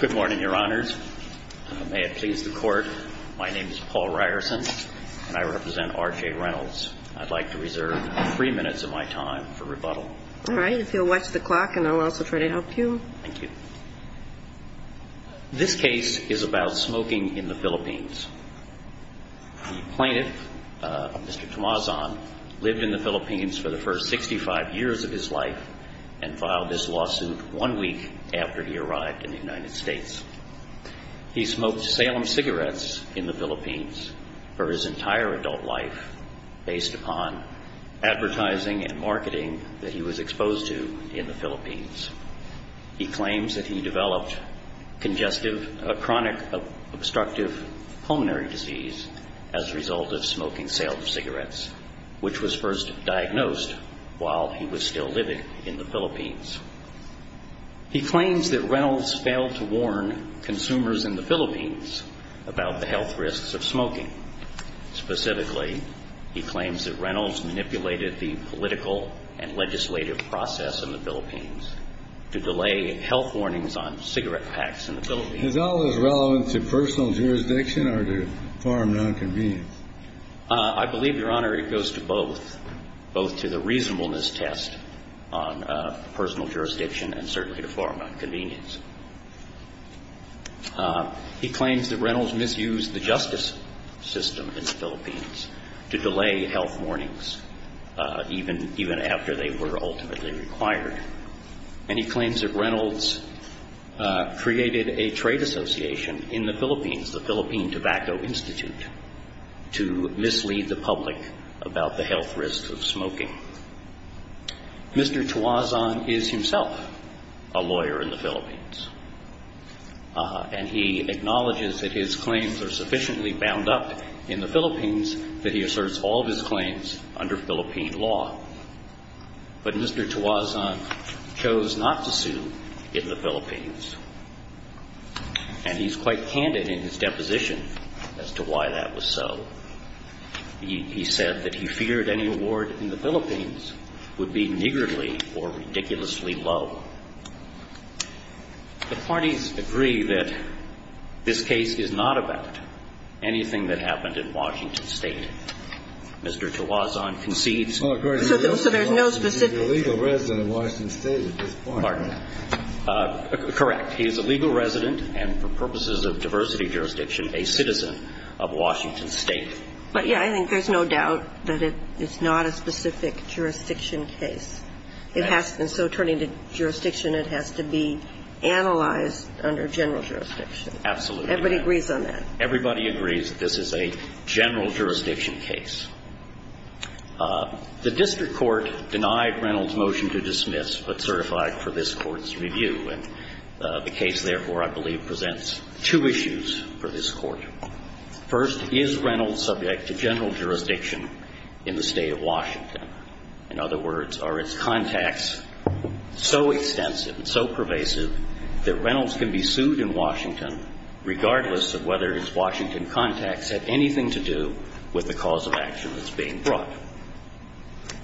Good morning, Your Honors. May it please the Court, my name is Paul Ryerson and I represent RJ Reynolds. I'd like to reserve three minutes of my time for rebuttal. All right, if you'll watch the clock and I'll also try to help you. Thank you. This case is about smoking in the Philippines. The plaintiff, Mr. Tomazon, lived in the Philippines for the first 65 years of his life and filed this lawsuit one week after he arrived in the United States. He smoked Salem cigarettes in the Philippines for his entire adult life based upon advertising and marketing that he was exposed to in the Philippines. He claims that he developed congestive chronic obstructive pulmonary disease as a result of smoking Salem cigarettes, which was first diagnosed while he was still living in the Philippines. He claims that Reynolds failed to warn consumers in the Philippines about the health risks of smoking. Specifically, he claims that Reynolds manipulated the political and legislative process in the Philippines to delay health warnings on cigarette packs in the Philippines. Is all this relevant to personal jurisdiction or to foreign non-convenience? I believe, Your Honor, it goes to both, both to the reasonableness test on personal jurisdiction and certainly to foreign non-convenience. He claims that Reynolds misused the justice system in the Philippines to delay health warnings even after they were ultimately required. And he claims that Reynolds created a trade association in the Philippines, the Philippine Tobacco Institute, to mislead the public about the health risks of smoking. Mr. Tuazon is himself a lawyer in the Philippines, and he acknowledges that his claims are sufficiently bound up in the Philippines that he asserts all of his claims under Philippine law. But Mr. Tuazon chose not to sue in the Philippines, and he's quite candid in his deposition as to why that was so. He said that he feared any award in the Philippines would be niggardly or ridiculously low. The parties agree that this case is not about anything that happened in Washington State. Mr. Tuazon concedes to the legal resident of Washington State at this point. But, yeah, I think there's no doubt that it's not a specific jurisdiction case. It has to be. And so turning to jurisdiction, it has to be analyzed under general jurisdiction. Absolutely. Everybody agrees on that. Everybody agrees that this is a general jurisdiction case. The district court denied Reynolds' motion to dismiss but certified for this Court's review. And the case, therefore, I believe presents two issues for this Court. First, is Reynolds subject to general jurisdiction in the State of Washington? In other words, are its contacts so extensive and so pervasive that Reynolds can be sued in Washington, regardless of whether its Washington contacts have anything to do with the cause of action that's being brought?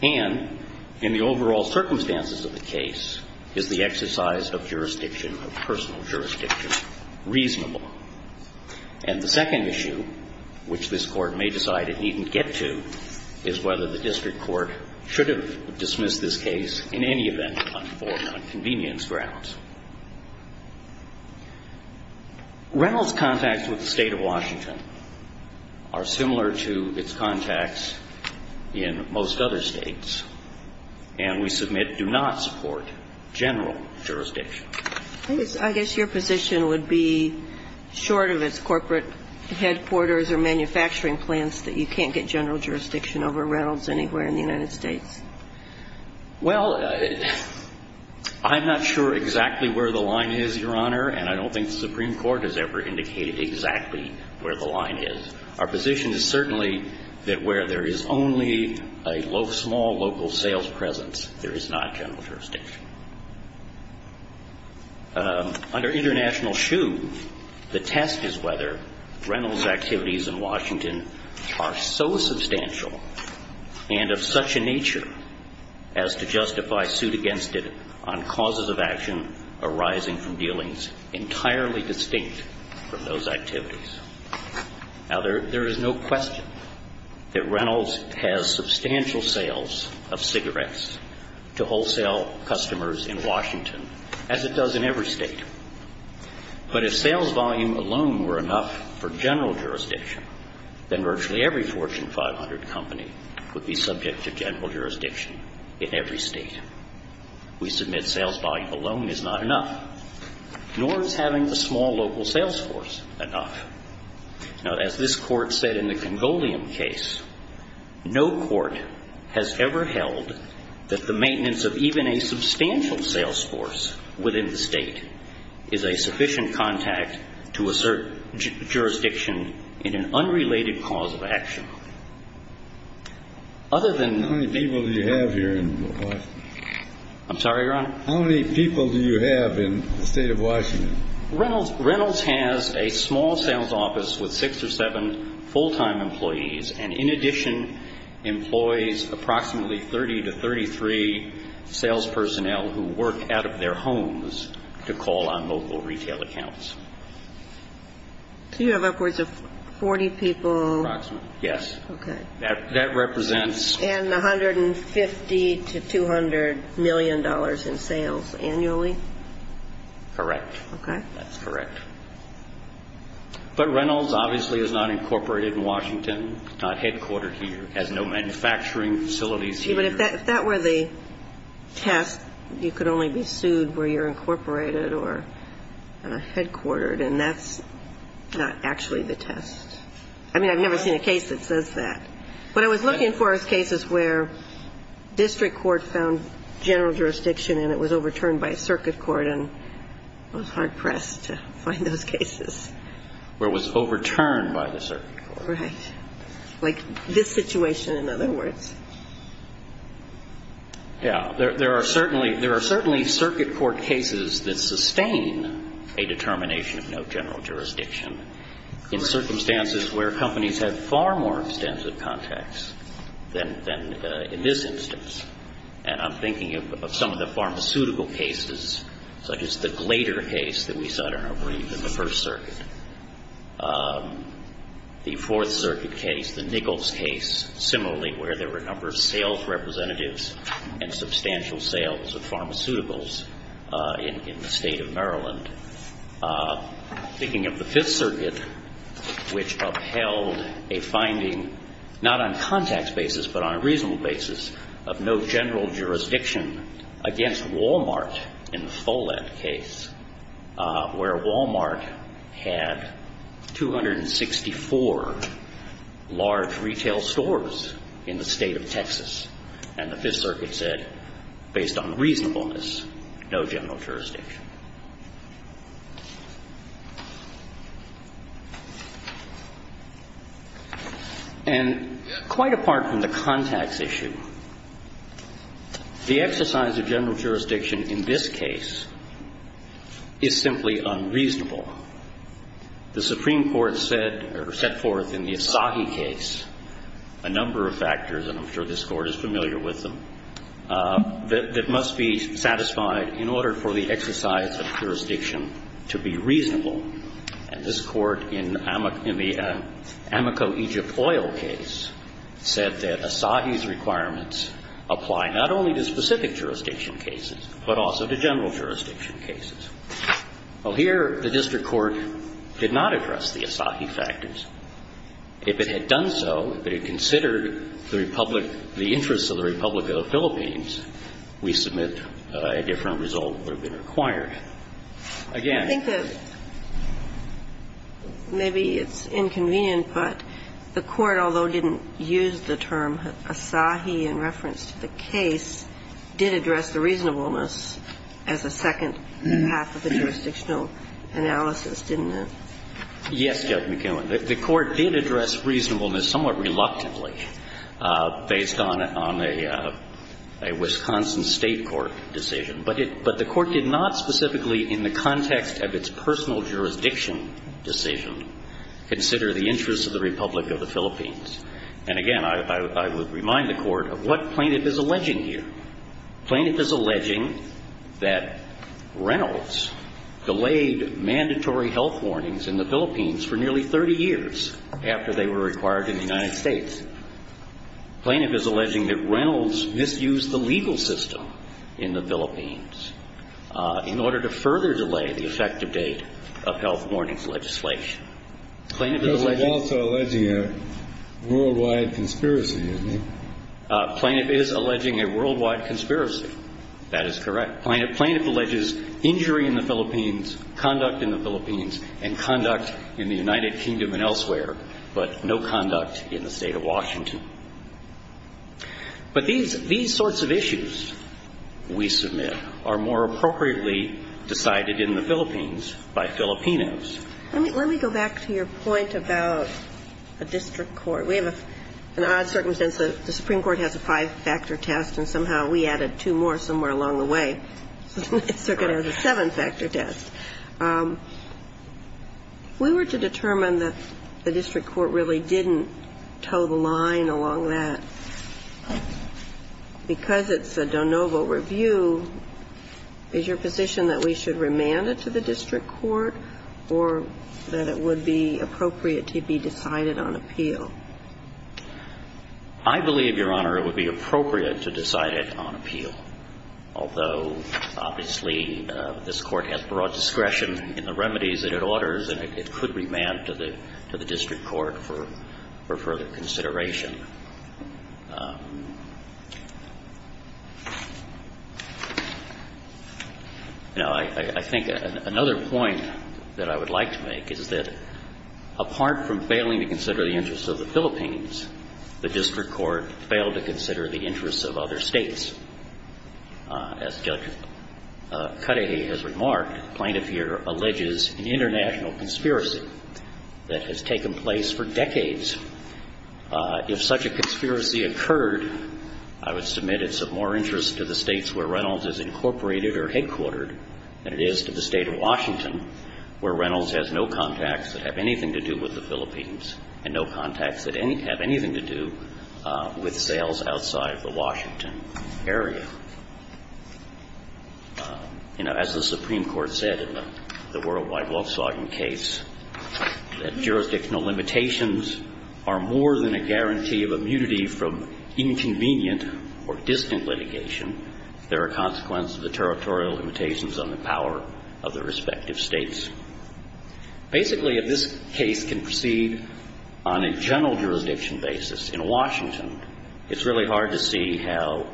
And in the overall circumstances of the case, is the exercise of jurisdiction, of personal jurisdiction, reasonable? And the second issue, which this Court may decide it needn't get to, is whether the district court should have dismissed this case in any event on convenience grounds. Reynolds' contacts with the State of Washington are similar to its contacts in most other states. And we submit do not support general jurisdiction. I guess your position would be, short of its corporate headquarters or manufacturing plants, that you can't get general jurisdiction over Reynolds anywhere in the United States? Well, I'm not sure exactly where the line is, Your Honor, and I don't think the Supreme Court has ever indicated exactly where the line is. Our position is certainly that where there is only a small local sales presence, there is not general jurisdiction. Under international shoe, the test is whether Reynolds' activities in Washington are so substantial and of such a nature as to justify suit against it on causes of action arising from dealings entirely distinct from those activities. Now, there is no question that Reynolds has substantial sales of cigarettes to wholesale customers in Washington, as it does in every state. But if sales volume alone were enough for general jurisdiction, then virtually every Fortune 500 company would be subject to general jurisdiction in every state. We submit sales volume alone is not enough, nor is having a small local sales force enough. Now, as this Court said in the Congolium case, no court has ever held that the maintenance of even a substantial sales force within the state is a sufficient contact to assert jurisdiction in an unrelated cause of action. Other than... How many people do you have here in Washington? I'm sorry, Your Honor? How many people do you have in the state of Washington? Reynolds has a small sales office with six or seven full-time employees, and in addition employs approximately 30 to 33 sales personnel who work out of their homes to call on local retail accounts. So you have upwards of 40 people... Approximately, yes. Okay. That represents... And $150 to $200 million in sales annually? Correct. Okay. That's correct. But Reynolds obviously is not incorporated in Washington, not headquartered here, has no manufacturing facilities here. But if that were the test, you could only be sued where you're incorporated or headquartered, and that's not actually the test. I mean, I've never seen a case that says that. What I was looking for is cases where district court found general jurisdiction and it was overturned by circuit court, and I was hard-pressed to find those cases. Where it was overturned by the circuit court. Right. Like this situation, in other words. Yeah. There are certainly circuit court cases that sustain a determination of no general jurisdiction. Correct. There are circumstances where companies have far more extensive contacts than in this instance, and I'm thinking of some of the pharmaceutical cases, such as the Glader case that we saw, I don't know, I believe, in the First Circuit. The Fourth Circuit case, the Nichols case, similarly, where there were a number of sales representatives and substantial sales of pharmaceuticals in the state of Maryland. Thinking of the Fifth Circuit, which upheld a finding, not on contacts basis, but on a reasonable basis, of no general jurisdiction against Wal-Mart in the Follett case, where Wal-Mart had 264 large retail stores in the state of Texas, and the Fifth Circuit said, based on reasonableness, no general jurisdiction. And quite apart from the contacts issue, the exercise of general jurisdiction in this case is simply unreasonable. The Supreme Court set forth in the Asahi case a number of factors, and I'm sure this Court is familiar with them, that must be satisfied in order for the exercise of jurisdiction to be reasonable. And this Court, in the Amoco Egypt Oil case, said that Asahi's requirements apply not only to specific jurisdiction cases, but also to general jurisdiction cases. Well, here the district court did not address the Asahi factors. If it had done so, if it had considered the Republic of the Philippines, we submit a different result would have been required. Again. I think that maybe it's inconvenient, but the Court, although didn't use the term Asahi in reference to the case, did address the reasonableness as a second half of the jurisdictional analysis, didn't it? Yes, Judge McKeown. The Court did address reasonableness somewhat reluctantly based on a Wisconsin State court decision. But the Court did not specifically in the context of its personal jurisdiction decision consider the interests of the Republic of the Philippines. And again, I would remind the Court of what Plaintiff is alleging here. Plaintiff is alleging that Reynolds delayed mandatory health warnings in the Philippines for nearly 30 years after they were required in the United States. Plaintiff is alleging that Reynolds misused the legal system in the Philippines in order to further delay the effective date of health warnings legislation. Plaintiff is alleging... But he's also alleging a worldwide conspiracy, isn't he? Plaintiff is alleging a worldwide conspiracy. That is correct. Plaintiff alleges injury in the Philippines, conduct in the Philippines, and conduct in the United Kingdom and elsewhere, but no conduct in the State of Washington. But these sorts of issues, we submit, are more appropriately decided in the Philippines by Filipinos. Let me go back to your point about a district court. We have an odd circumstance. The Supreme Court has a five-factor test, and somehow we added two more somewhere along the way. So it's a seven-factor test. If we were to determine that the district court really didn't toe the line along that, because it's a de novo review, is your position that we should remand it to the district court or that it would be appropriate to be decided on appeal? I believe, Your Honor, it would be appropriate to decide it on appeal, although obviously this Court has broad discretion in the remedies that it orders, and it could remand to the district court for further consideration. Now, I think another point that I would like to make is that apart from failing to consider the interests of the Philippines, the district court failed to consider the interests of other states. As Judge Cudahy has remarked, plaintiff here alleges an international conspiracy that has taken place for decades. If such a conspiracy occurred, I would submit it's of more interest to the states where Reynolds is incorporated or headquartered than it is to the State of Washington where Reynolds has no contacts that have anything to do with the Philippines and no contacts that have anything to do with sales outside the Washington area. You know, as the Supreme Court said in the Worldwide Volkswagen case, that jurisdictional limitations are more than a guarantee of immunity from inconvenient or distant litigation. There are consequences of the territorial limitations on the power of the respective states. Basically, if this case can proceed on a general jurisdiction basis in Washington, it's really hard to see how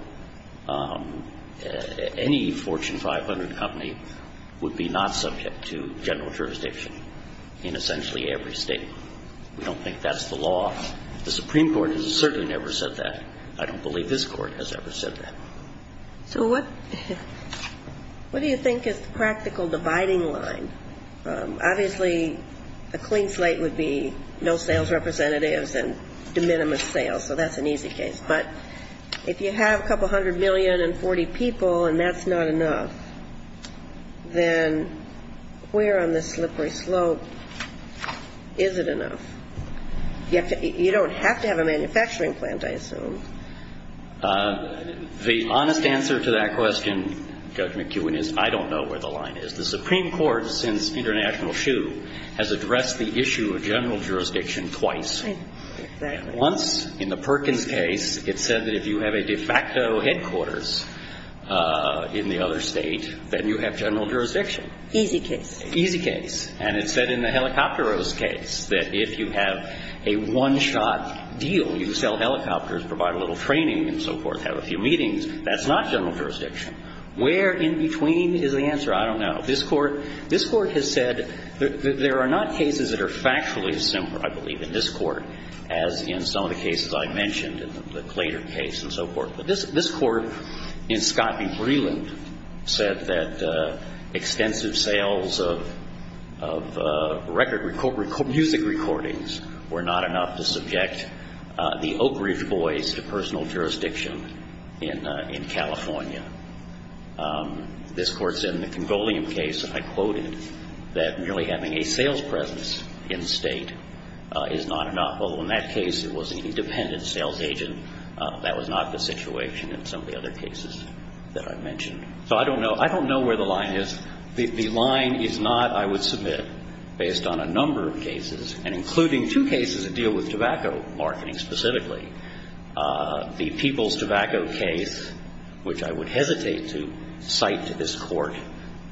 any Fortune 500 company would be not subject to general jurisdiction in essentially every State. We don't think that's the law. The Supreme Court has certainly never said that. I don't believe this Court has ever said that. So what do you think is the practical dividing line? Obviously, a clean slate would be no sales representatives and de minimis sales, so that's an easy case. But if you have a couple hundred million and 40 people and that's not enough, then where on this slippery slope is it enough? You don't have to have a manufacturing plant, I assume. The honest answer to that question, Judge McKeown, is I don't know where the line is. The Supreme Court, since International Shoe, has addressed the issue of general jurisdiction twice. Once, in the Perkins case, it said that if you have a de facto headquarters in the other State, then you have general jurisdiction. Easy case. Easy case. And it said in the Helicopteros case that if you have a one-shot deal, you sell helicopters, provide a little training and so forth, have a few meetings. That's not general jurisdiction. Where in between is the answer? I don't know. This Court has said that there are not cases that are factually as simple, I believe, in this Court as in some of the cases I mentioned, the Glader case and so forth. But this Court in Scott v. Breland said that extensive sales of record music recordings were not enough to subject the Oak Ridge Boys to personal jurisdiction in California. This Court said in the Congolium case, and I quoted, that merely having a sales presence in State is not enough. Although, in that case, it was an independent sales agent. That was not the situation in some of the other cases that I mentioned. So I don't know. I don't know where the line is. The line is not, I would submit, based on a number of cases, and including two cases that deal with tobacco marketing specifically. The People's Tobacco case, which I would hesitate to cite to this Court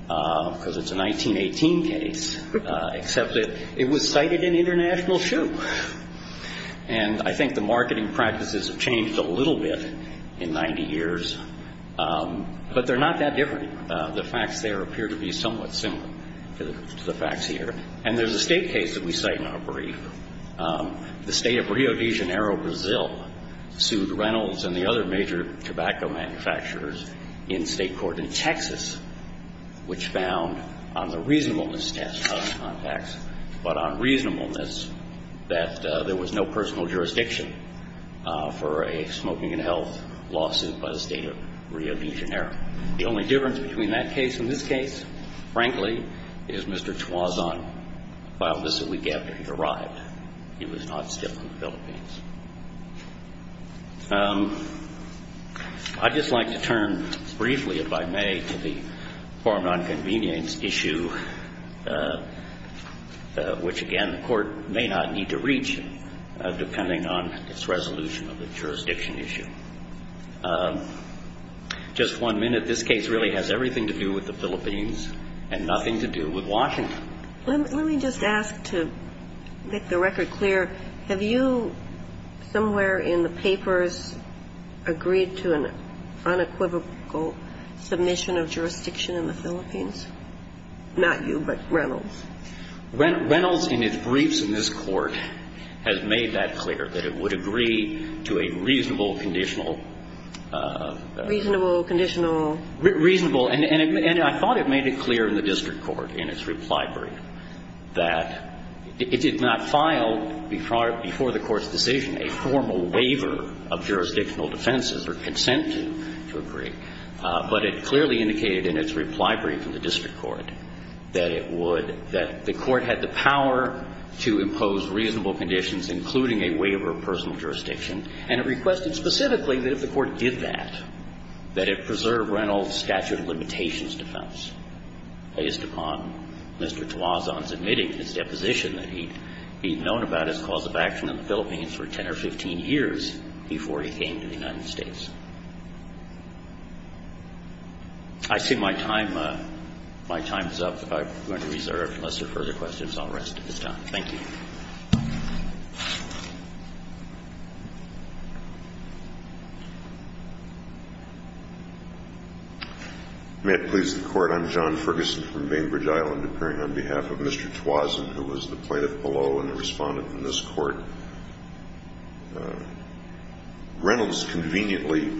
because it's a 1918 case, except that it was cited in International, too. And I think the marketing practices have changed a little bit in 90 years. But they're not that different. The facts there appear to be somewhat similar to the facts here. And there's a State case that we cite in our brief. The State of Rio de Janeiro, Brazil, sued Reynolds and the other major tobacco manufacturers in State court in Texas, which found on the reasonableness test of the contacts, but on reasonableness, that there was no personal jurisdiction for a smoking and health lawsuit by the State of Rio de Janeiro. The only difference between that case and this case, frankly, is Mr. Chuazon filed this a week after he arrived. He was not still in the Philippines. I'd just like to turn briefly, if I may, to the foreign nonconvenience issue, which, again, the Court may not need to reach, depending on its resolution of the jurisdiction issue. Just one minute. This case really has everything to do with the Philippines and nothing to do with Washington. Let me just ask to make the record clear. Have you somewhere in the papers agreed to an unequivocal submission of jurisdiction in the Philippines? Not you, but Reynolds. Reynolds, in his briefs in this Court, has made that clear, that it would agree to a reasonable, conditional. Reasonable, conditional. Reasonable. And I thought it made it clear in the district court in its reply brief that it did not file before the Court's decision a formal waiver of jurisdictional defenses or consent to agree, but it clearly indicated in its reply brief in the district court that it had the power to impose reasonable conditions, including a waiver of personal jurisdiction, and it requested specifically that if the Court did that, that it preserve Reynolds' statute of limitations defense based upon Mr. Tuazon's admitting his deposition that he'd known about his cause of action in the Philippines for 10 or 15 years before he came to the United States. I see my time is up. I'm going to reserve. Unless there are further questions, I'll rest at this time. Thank you. May it please the Court. I'm John Ferguson from Bainbridge Island, appearing on behalf of Mr. Tuazon, who was the plaintiff below and the respondent in this Court. Reynolds conveniently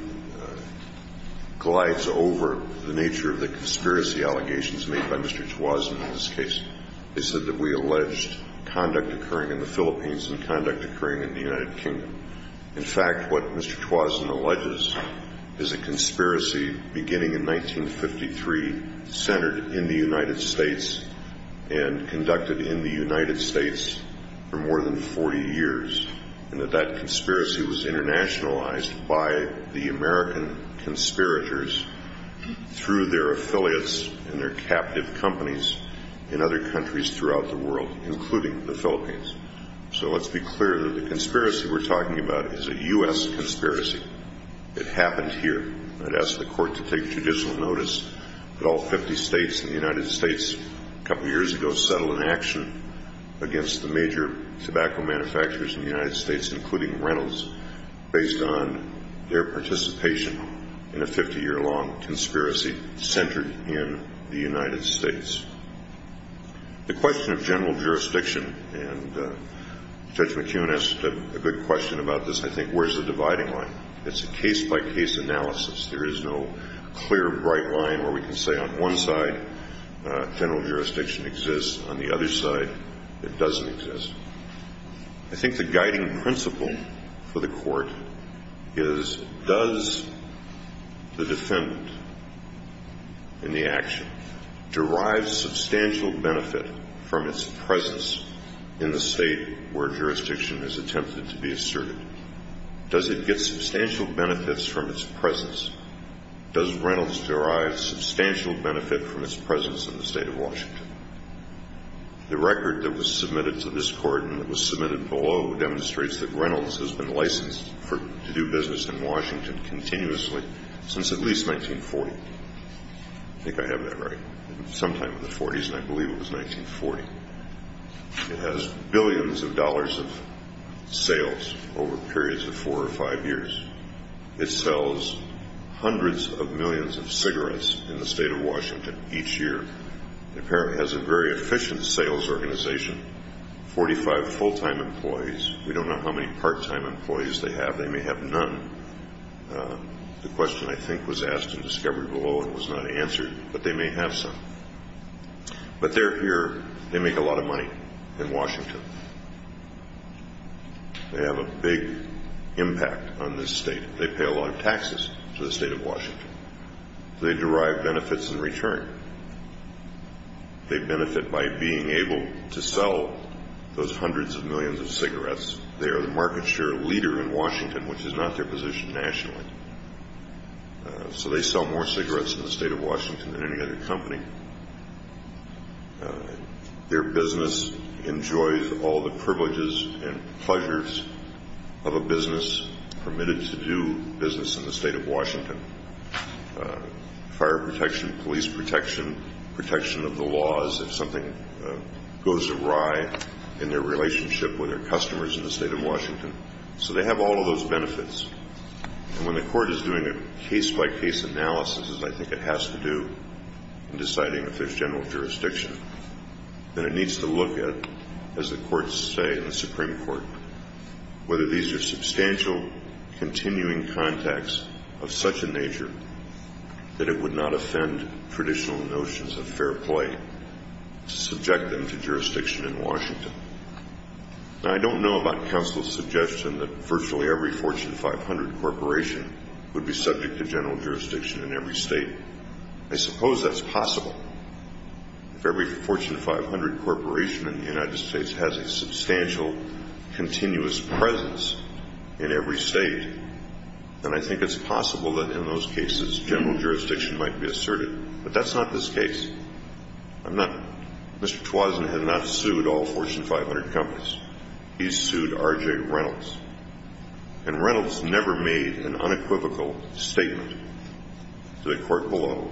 glides over the nature of the conspiracy allegations made by Mr. Tuazon in this case. They said that we alleged conduct occurring in the Philippines and conduct occurring in the United Kingdom. In fact, what Mr. Tuazon alleges is a conspiracy beginning in 1953 centered in the United States and conducted in the United States for more than 40 years. And that that conspiracy was internationalized by the American conspirators through their affiliates and their captive companies in other countries throughout the world, including the Philippines. So let's be clear that the conspiracy we're talking about is a U.S. conspiracy. It happened here. I'd ask the Court to take judicial notice that all 50 states in the United States a major tobacco manufacturers in the United States, including Reynolds, based on their participation in a 50-year-long conspiracy centered in the United States. The question of general jurisdiction, and Judge McKeown asked a good question about this, I think, where's the dividing line? It's a case-by-case analysis. There is no clear, bright line where we can say on one side general jurisdiction exists. On the other side, it doesn't exist. I think the guiding principle for the Court is does the defendant in the action derive substantial benefit from its presence in the state where jurisdiction is attempted to be asserted? Does it get substantial benefits from its presence? Does Reynolds derive substantial benefit from its presence in the state of Washington? The record that was submitted to this Court and that was submitted below demonstrates that Reynolds has been licensed to do business in Washington continuously since at least 1940. I think I have that right. Sometime in the 40s, and I believe it was 1940. It has billions of dollars of sales over periods of four or five years. It sells hundreds of millions of cigarettes in the state of Washington each year. It apparently has a very efficient sales organization, 45 full-time employees. We don't know how many part-time employees they have. They may have none. The question, I think, was asked in discovery below and was not answered, but they may have some. But they're here. They make a lot of money in Washington. They have a big impact on this state. They pay a lot of taxes to the state of Washington. They derive benefits in return. They benefit by being able to sell those hundreds of millions of cigarettes. They are the market share leader in Washington, which is not their position nationally. So they sell more cigarettes in the state of Washington than any other company. Their business enjoys all the privileges and pleasures of a business permitted to do business in the state of Washington. Fire protection, police protection, protection of the laws, if something goes awry in their relationship with their customers in the state of Washington. So they have all of those benefits. And when the court is doing a case-by-case analysis, as I think it has to do, in deciding if there's general jurisdiction, then it needs to look at, as the courts say in the Supreme Court, whether these are substantial continuing contacts of such a nature that it would not offend traditional notions of fair play to subject them to jurisdiction in Washington. Now, I don't know about counsel's suggestion that virtually every Fortune 500 corporation would be subject to general jurisdiction in every state. I suppose that's possible. If every Fortune 500 corporation in the United States has a substantial continuous presence in every state, then I think it's possible that in those cases general jurisdiction might be asserted. But that's not this case. Mr. Twazin has not sued all Fortune 500 companies. He sued R.J. Reynolds. And Reynolds never made an unequivocal statement to the court below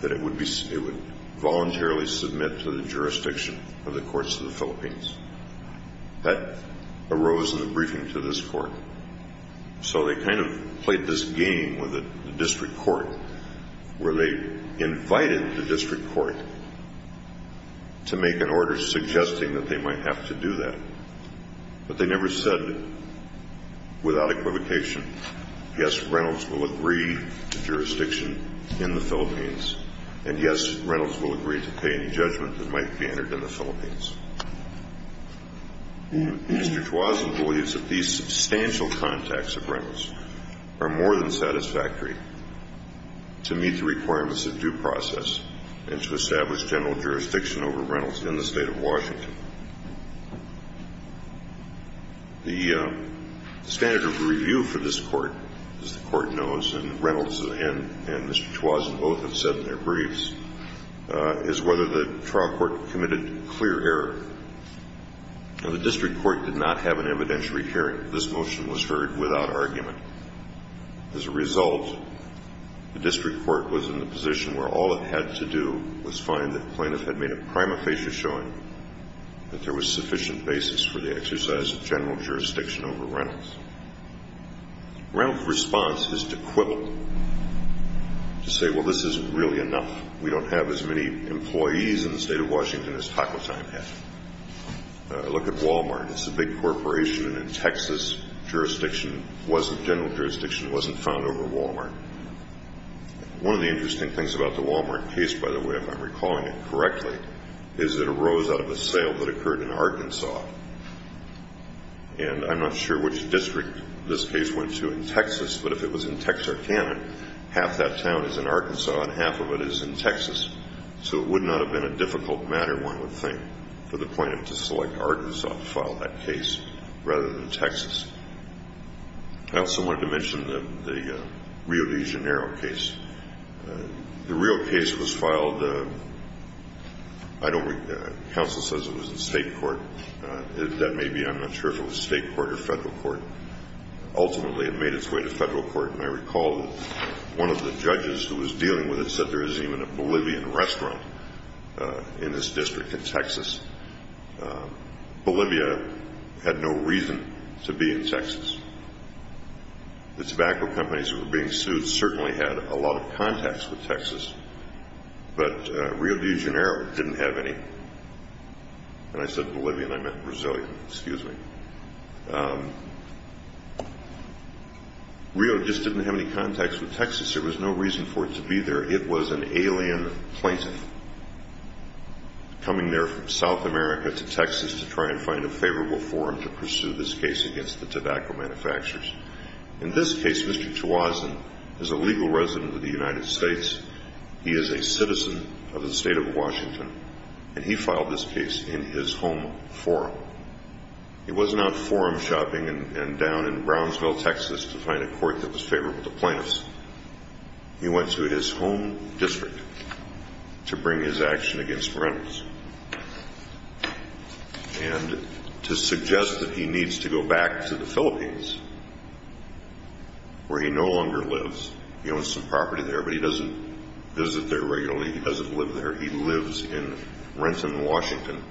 that it would voluntarily submit to the jurisdiction of the courts of the Philippines. That arose in the briefing to this court. So they kind of played this game with the district court where they invited the district court to make an order suggesting that they might have to do that. But they never said without equivocation, yes, Reynolds will agree to jurisdiction in the Philippines, and yes, Reynolds will agree to pay any judgment that might be entered in the Philippines. Mr. Twazin believes that these substantial contacts of Reynolds are more than satisfactory. To meet the requirements of due process and to establish general jurisdiction over Reynolds in the state of Washington. The standard of review for this court, as the court knows, and Reynolds and Mr. Twazin both have said in their briefs, is whether the trial court committed clear error. The district court did not have an evidentiary hearing. This motion was heard without argument. As a result, the district court was in the position where all it had to do was find that plaintiff had made a prima facie showing that there was sufficient basis for the exercise of general jurisdiction over Reynolds. Reynolds' response is to quibble, to say, well, this isn't really enough. We don't have as many employees in the state of Washington as Taco Time had. Look at Walmart. It's a big corporation. And in Texas, general jurisdiction wasn't found over Walmart. One of the interesting things about the Walmart case, by the way, if I'm recalling it correctly, is it arose out of a sale that occurred in Arkansas. And I'm not sure which district this case went to in Texas, but if it was in Texarkana, half that town is in Arkansas and half of it is in Texas. So it would not have been a difficult matter, one would think, for the plaintiff to select Arkansas to file that case rather than Texas. I also wanted to mention the Rio de Janeiro case. The Rio case was filed. I don't remember. Counsel says it was in state court. That may be. I'm not sure if it was state court or federal court. Ultimately, it made its way to federal court. And I recall one of the judges who was dealing with it said there isn't even a Bolivian restaurant in this district in Texas. Bolivia had no reason to be in Texas. The tobacco companies that were being sued certainly had a lot of contacts with Texas, but Rio de Janeiro didn't have any. And I said Bolivian. I meant Brazilian. Excuse me. Rio just didn't have any contacts with Texas. There was no reason for it to be there. It was an alien plaintiff coming there from South America to Texas to try and find a favorable forum to pursue this case against the tobacco manufacturers. In this case, Mr. Chawazin is a legal resident of the United States. He is a citizen of the state of Washington, and he filed this case in his home forum. He wasn't out forum shopping and down in Brownsville, Texas, to find a court that was favorable to plaintiffs. He went to his home district to bring his action against rentals and to suggest that he needs to go back to the Philippines where he no longer lives. He owns some property there, but he doesn't visit there regularly. He doesn't live there. He lives in Renton, Washington,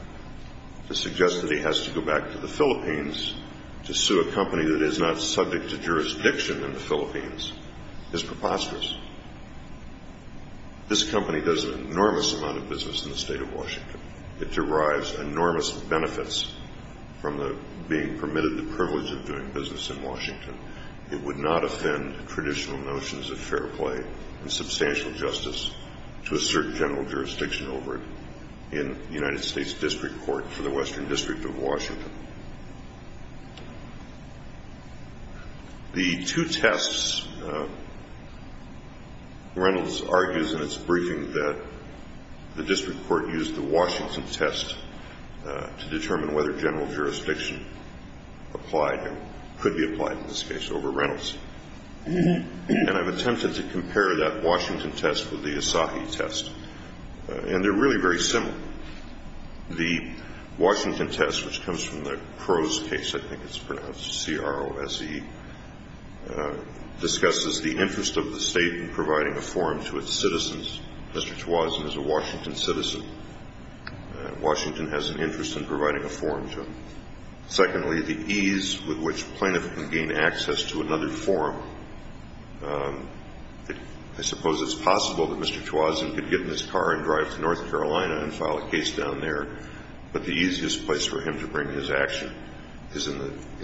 to suggest that he has to go back to the Philippines to sue a company that is not subject to jurisdiction in the Philippines is preposterous. This company does an enormous amount of business in the state of Washington. It derives enormous benefits from being permitted the privilege of doing business in Washington. It would not offend traditional notions of fair play and substantial justice to assert general jurisdiction over it in the United States District Court for the Western District of Washington. The two tests, Reynolds argues in its briefing that the district court used the Washington test to determine whether general jurisdiction applied or could be applied in this case over Reynolds. And I've attempted to compare that Washington test with the Asahi test, and they're really very similar. The Washington test, which comes from the Crow's case, I think it's pronounced C-R-O-S-E, discusses the interest of the state in providing a forum to its citizens. Mr. Twazin is a Washington citizen. Washington has an interest in providing a forum to him. Secondly, the ease with which plaintiff can gain access to another forum. I suppose it's possible that Mr. Twazin could get in his car and drive to North Carolina and file a case down there, but the easiest place for him to bring his action is in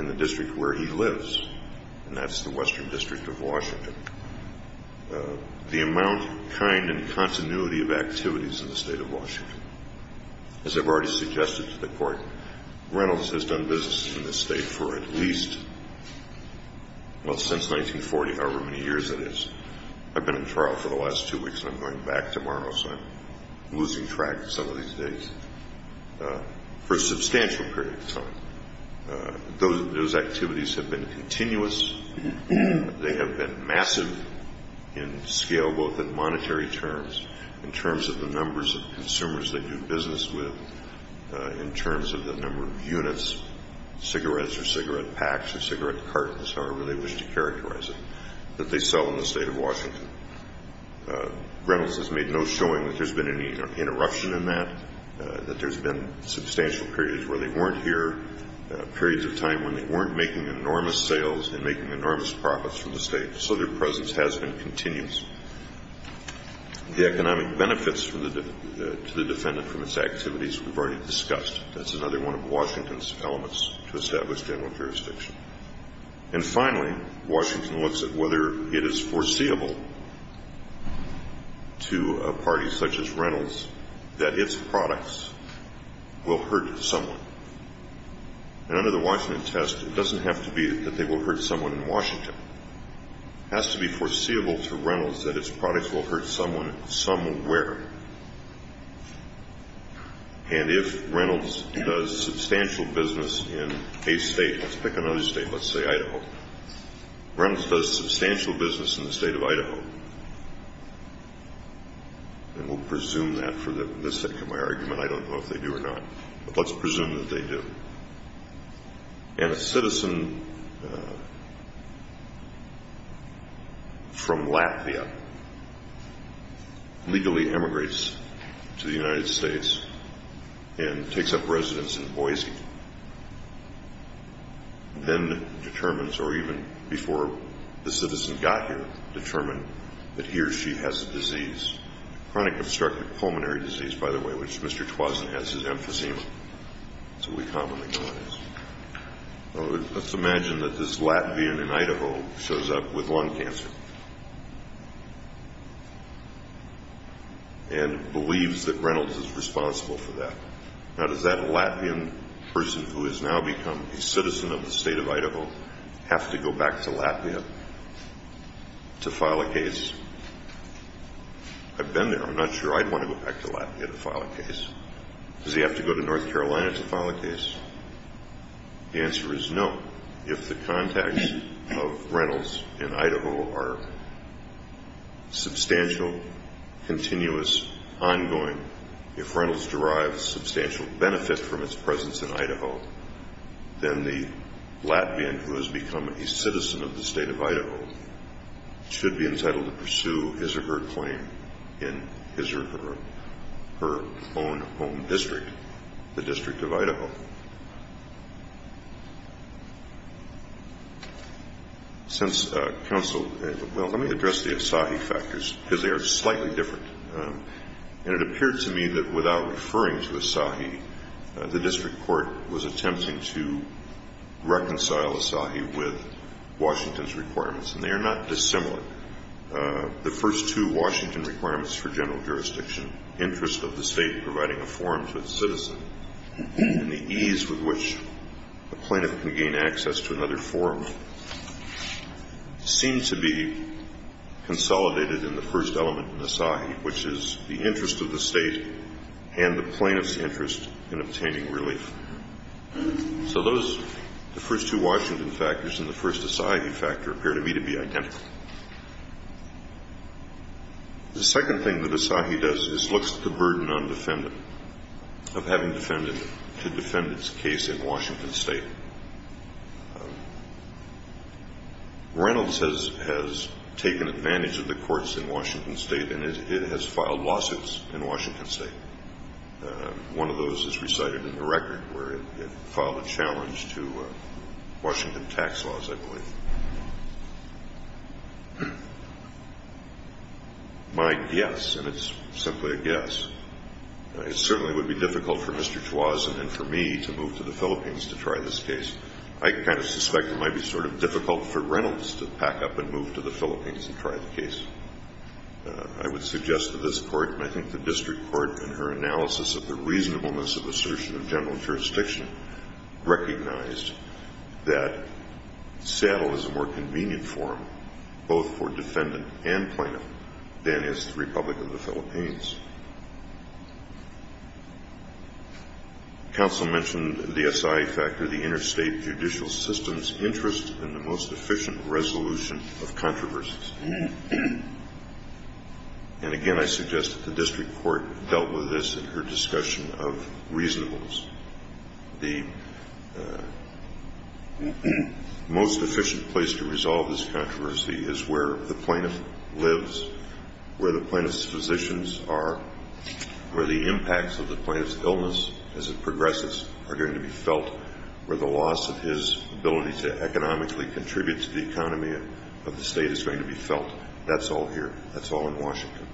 the district where he lives, and that's the Western District of Washington. The amount, kind, and continuity of activities in the state of Washington. As I've already suggested to the Court, Reynolds has done business in this state for at least, well, since 1940, however many years it is. I've been in trial for the last two weeks, and I'm going back tomorrow, so I'm losing track of some of these days, for a substantial period of time. Those activities have been continuous. They have been massive in scale, both in monetary terms, in terms of the numbers of consumers they do business with, in terms of the number of units, cigarettes or cigarette packs or cigarette cartons, however they wish to characterize it, that they sell in the state of Washington. Reynolds has made no showing that there's been any interruption in that, that there's been substantial periods where they weren't here, periods of time when they weren't making enormous sales and making enormous profits for the state. So their presence has been continuous. The economic benefits to the defendant from its activities we've already discussed. That's another one of Washington's elements to establish general jurisdiction. And finally, Washington looks at whether it is foreseeable to a party such as Reynolds that its products will hurt someone. And under the Washington test, it doesn't have to be that they will hurt someone in Washington. It has to be foreseeable to Reynolds that its products will hurt someone somewhere. And if Reynolds does substantial business in a state, let's pick another state, let's say Idaho, Reynolds does substantial business in the state of Idaho, and we'll presume that for the sake of my argument, I don't know if they do or not, but let's presume that they do. And a citizen from Latvia legally emigrates to the United States and takes up residence in Boise, then determines, or even before the citizen got here, determined that he or she has a disease, chronic obstructive pulmonary disease, by the way, which Mr. Twoson has his emphasis on. That's what we commonly call it. Let's imagine that this Latvian in Idaho shows up with lung cancer and believes that Reynolds is responsible for that. Now, does that Latvian person who has now become a citizen of the state of Idaho I've been there. I'm not sure I'd want to go back to Latvia to file a case. Does he have to go to North Carolina to file a case? The answer is no. If the contacts of Reynolds in Idaho are substantial, continuous, ongoing, if Reynolds derives substantial benefit from its presence in Idaho, then the Latvian who has become a citizen of the state of Idaho should be entitled to pursue his or her claim in his or her own home district, the District of Idaho. Since counsel, well, let me address the Asahi factors because they are slightly different. And it appeared to me that without referring to Asahi, the district court was attempting to reconcile Asahi with Washington's requirements, and they are not dissimilar. The first two Washington requirements for general jurisdiction, interest of the state in providing a forum to its citizen and the ease with which the plaintiff can gain access to another forum, seem to be consolidated in the first element in Asahi, which is the interest of the state and the plaintiff's interest in obtaining relief. So those, the first two Washington factors and the first Asahi factor, appear to me to be identical. The second thing that Asahi does is looks at the burden on the defendant of having to defend its case in Washington state. Reynolds has taken advantage of the courts in Washington state and it has filed lawsuits in Washington state. One of those is recited in the record where it filed a challenge to Washington tax laws, I believe. My guess, and it's simply a guess, it certainly would be difficult for Mr. Chwazin and for me to move to the Philippines to try this case. I kind of suspect it might be sort of difficult for Reynolds to pack up and move to the Philippines and try the case. I would suggest to this court, and I think the district court, in her analysis of the reasonableness of assertion of general jurisdiction, recognized that Seattle is a more convenient forum, both for defendant and plaintiff, than is the Republic of the Philippines. Counsel mentioned the Asahi factor, the interstate judicial system's interest in the most efficient resolution of controversies. And again, I suggest that the district court dealt with this in her discussion of reasonableness. The most efficient place to resolve this controversy is where the plaintiff lives, where the plaintiff's physicians are, where the impacts of the plaintiff's illness as it progresses are going to be felt, where the loss of his ability to economically contribute to the economy of the state is going to be felt. That's all here. That's all in Washington.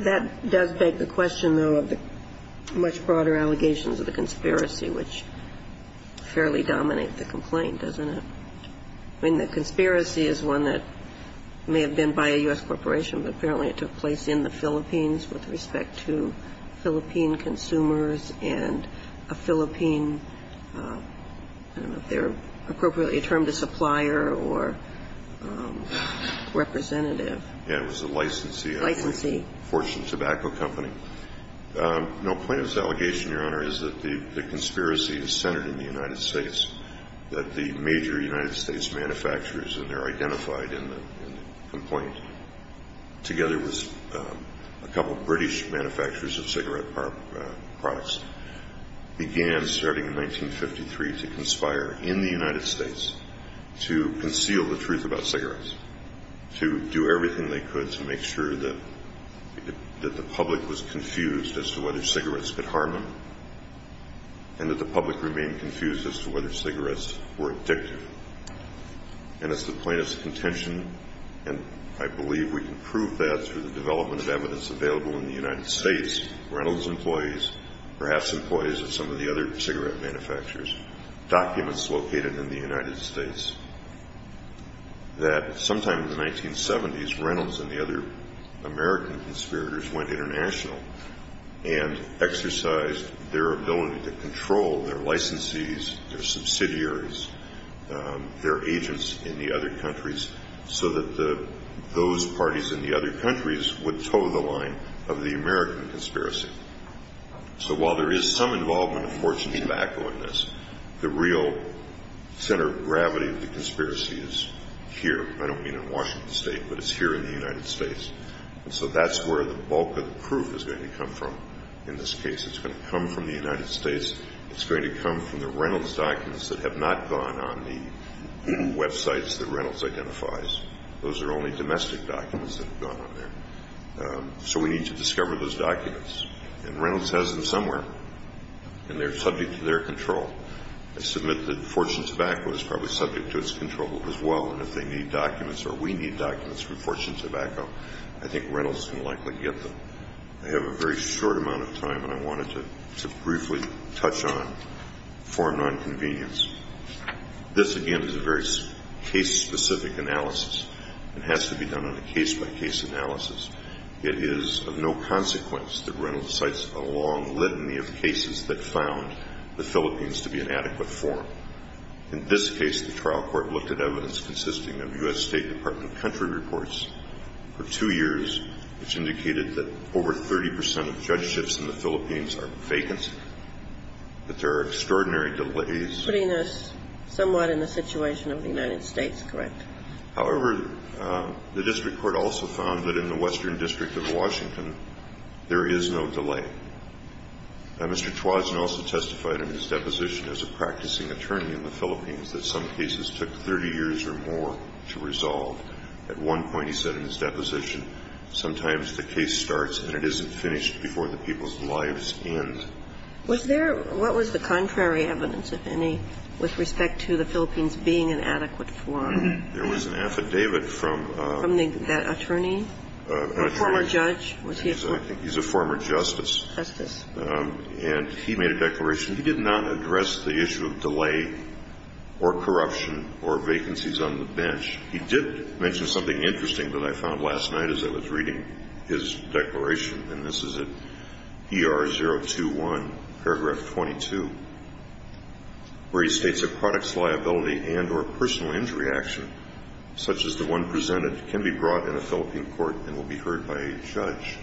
That does beg the question, though, of the much broader allegations of the conspiracy, which fairly dominate the complaint, doesn't it? I mean, the conspiracy is one that may have been by a U.S. corporation, but apparently it took place in the Philippines with respect to Philippine consumers and a Philippine, I don't know if they're appropriately termed a supplier or representative. Yeah, it was a licensee. Licensee. Fortune Tobacco Company. Now, plaintiff's allegation, Your Honor, is that the conspiracy is centered in the United States, that the major United States manufacturers, and they're identified in the complaint, together with a couple of British manufacturers of cigarette products, began starting in 1953 to conspire in the United States to conceal the truth about cigarettes, to do everything they could to make sure that the public was confused as to whether cigarettes could harm them and that the public remained confused as to whether cigarettes were addictive. And it's the plaintiff's contention, and I believe we can prove that through the development of evidence available in the United States, Reynolds' employees, perhaps employees of some of the other cigarette manufacturers, documents located in the United States, that sometime in the 1970s, Reynolds and the other American conspirators went international and exercised their ability to control their licensees, their subsidiaries, their agents in the other countries, so that those parties in the other countries would toe the line of the American conspiracy. So while there is some involvement of Fortune Tobacco in this, the real center of gravity of the conspiracy is here. I don't mean in Washington State, but it's here in the United States. And so that's where the bulk of the proof is going to come from in this case. It's going to come from the United States. It's going to come from the Reynolds documents that have not gone on the websites that Reynolds identifies. Those are only domestic documents that have gone on there. So we need to discover those documents. And Reynolds has them somewhere, and they're subject to their control. I submit that Fortune Tobacco is probably subject to its control as well, and if they need documents or we need documents from Fortune Tobacco, I think Reynolds can likely get them. I have a very short amount of time, and I wanted to briefly touch on foreign nonconvenience. This, again, is a very case-specific analysis. It has to be done on a case-by-case analysis. It is of no consequence that Reynolds cites a long litany of cases that found the Philippines to be an adequate forum. In this case, the trial court looked at evidence consisting of U.S. State Department of Country reports for two years, which indicated that over 30 percent of judge shifts in the Philippines are vacancy, that there are extraordinary delays. Putting us somewhat in the situation of the United States, correct? However, the district court also found that in the Western District of Washington, there is no delay. Now, Mr. Twazin also testified in his deposition as a practicing attorney in the Philippines that some cases took 30 years or more to resolve. At one point, he said in his deposition, sometimes the case starts and it isn't finished before the people's lives end. Was there – what was the contrary evidence, if any, with respect to the Philippines being an adequate forum? There was an affidavit from – From that attorney? Former judge? He's a former justice. Justice. And he made a declaration. He did not address the issue of delay or corruption or vacancies on the bench. He did mention something interesting that I found last night as I was reading his declaration, and this is at ER 021, paragraph 22, where he states that products liability and or personal injury action, such as the one presented, can be brought in a Philippine court and will be heard by a judge.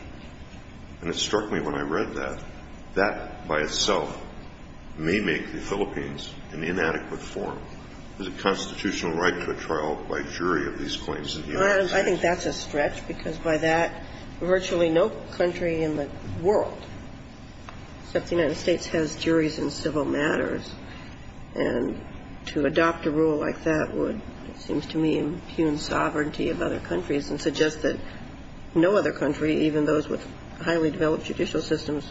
And it struck me when I read that, that by itself may make the Philippines an inadequate forum. Is it constitutional right to a trial by jury of these claims in the United States? I think that's a stretch, because by that, virtually no country in the world except the United States has juries in civil matters. And to adopt a rule like that would, it seems to me, impugn sovereignty of other countries and suggest that no other country, even those with highly developed judicial systems,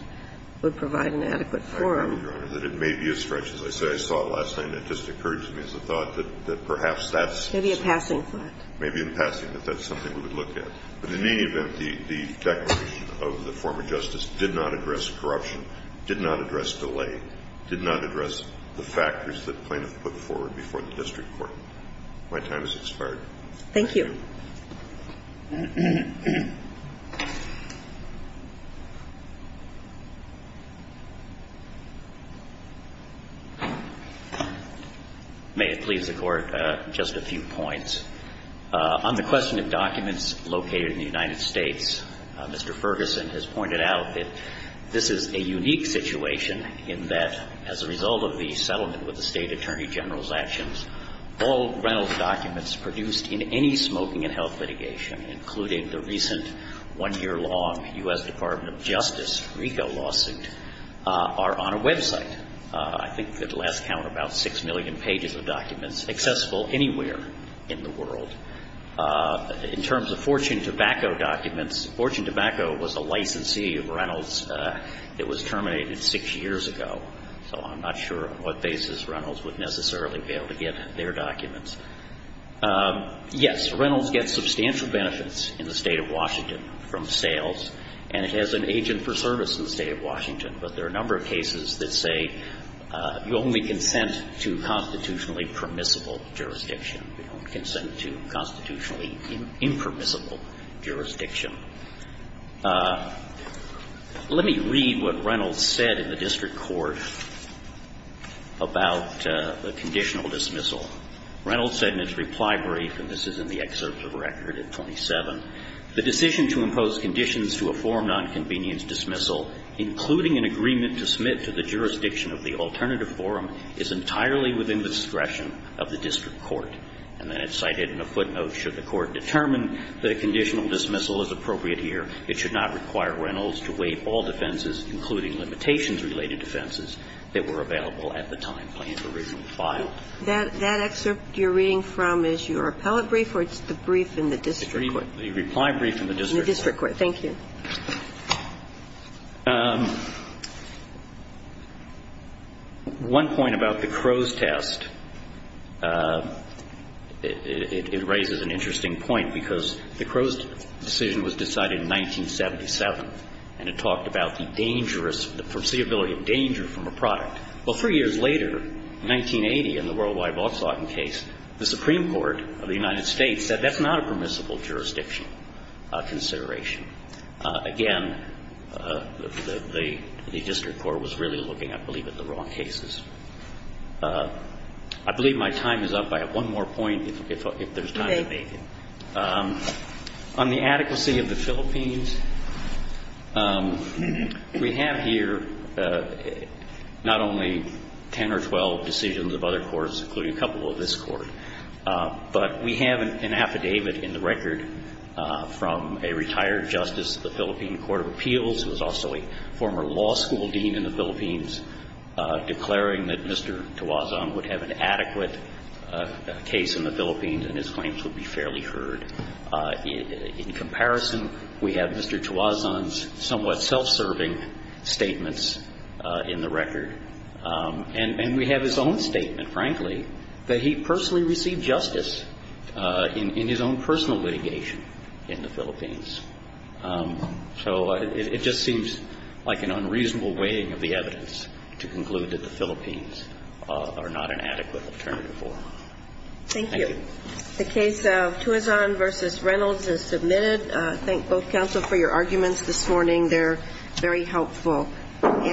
would provide an adequate forum. So I moved on it, that it may be a stretch. As I said, I saw it last night, and it just occurred to me as a thought that perhaps that's... Maybe a passing thought. Maybe a passing thought. That's something we would look at. But in any event, the declaration of the former justice did not address corruption, did not address delay, did not address the factors that plaintiff put forward before the district court. My time has expired. Thank you. May it please the Court, just a few points. On the question of documents located in the United States, Mr. Ferguson has pointed out that this is a unique situation in that, as a result of the settlement with the State Attorney General's actions, all Reynolds documents produced in any smoking and health litigation, including the recent one-year-long U.S. Department of Justice RICO lawsuit, are on a website. I think, at last count, about six million pages of documents accessible anywhere in the world. In terms of Fortune Tobacco documents, Fortune Tobacco was a licensee of Reynolds that was terminated six years ago. So I'm not sure on what basis Reynolds would necessarily be able to get their documents. Yes, Reynolds gets substantial benefits in the State of Washington from sales, and it has an agent for service in the State of Washington. But there are a number of cases that say you only consent to constitutionally permissible jurisdiction. We don't consent to constitutionally impermissible jurisdiction. Let me read what Reynolds said in the district court about the conditional dismissal. Reynolds said in his reply brief, and this is in the excerpt of the record at 27, the decision to impose conditions to a forum nonconvenience dismissal, including an agreement to submit to the jurisdiction of the alternative forum, is entirely within the discretion of the district court. And then it's cited in a footnote. Should the court determine that a conditional dismissal is appropriate here, it should not require Reynolds to waive all defenses, including limitations-related defenses, that were available at the time plan's original file. That excerpt you're reading from is your appellate brief or it's the brief in the district court. The reply brief in the district court. In the district court. Thank you. One point about the Crow's test, it raises an interesting point, because the Crow's decision was decided in 1977, and it talked about the dangerous, the foreseeability of danger from a product. Well, three years later, 1980, in the World Wide Volkswagen case, the Supreme Court of the United States said that's not a permissible jurisdiction consideration. Again, the district court was really looking, I believe, at the wrong cases. I believe my time is up. I have one more point, if there's time. Okay. On the adequacy of the Philippines, we have here not only 10 or 12 decisions of other courts, including a couple of this Court, but we have an affidavit in the record from a retired justice of the Philippine Court of Appeals, who is also a former law school dean in the Philippines, declaring that Mr. Tuazon would have an adequate case in the Philippines and his claims would be fairly heard. In comparison, we have Mr. Tuazon's somewhat self-serving statements in the record. And we have his own statement, frankly, that he personally received justice in his own personal litigation in the Philippines. So it just seems like an unreasonable weighing of the evidence to conclude that the Philippines are not an adequate alternative for him. Thank you. The case of Tuazon v. Reynolds is submitted. I thank both counsel for your arguments this morning. They're very helpful.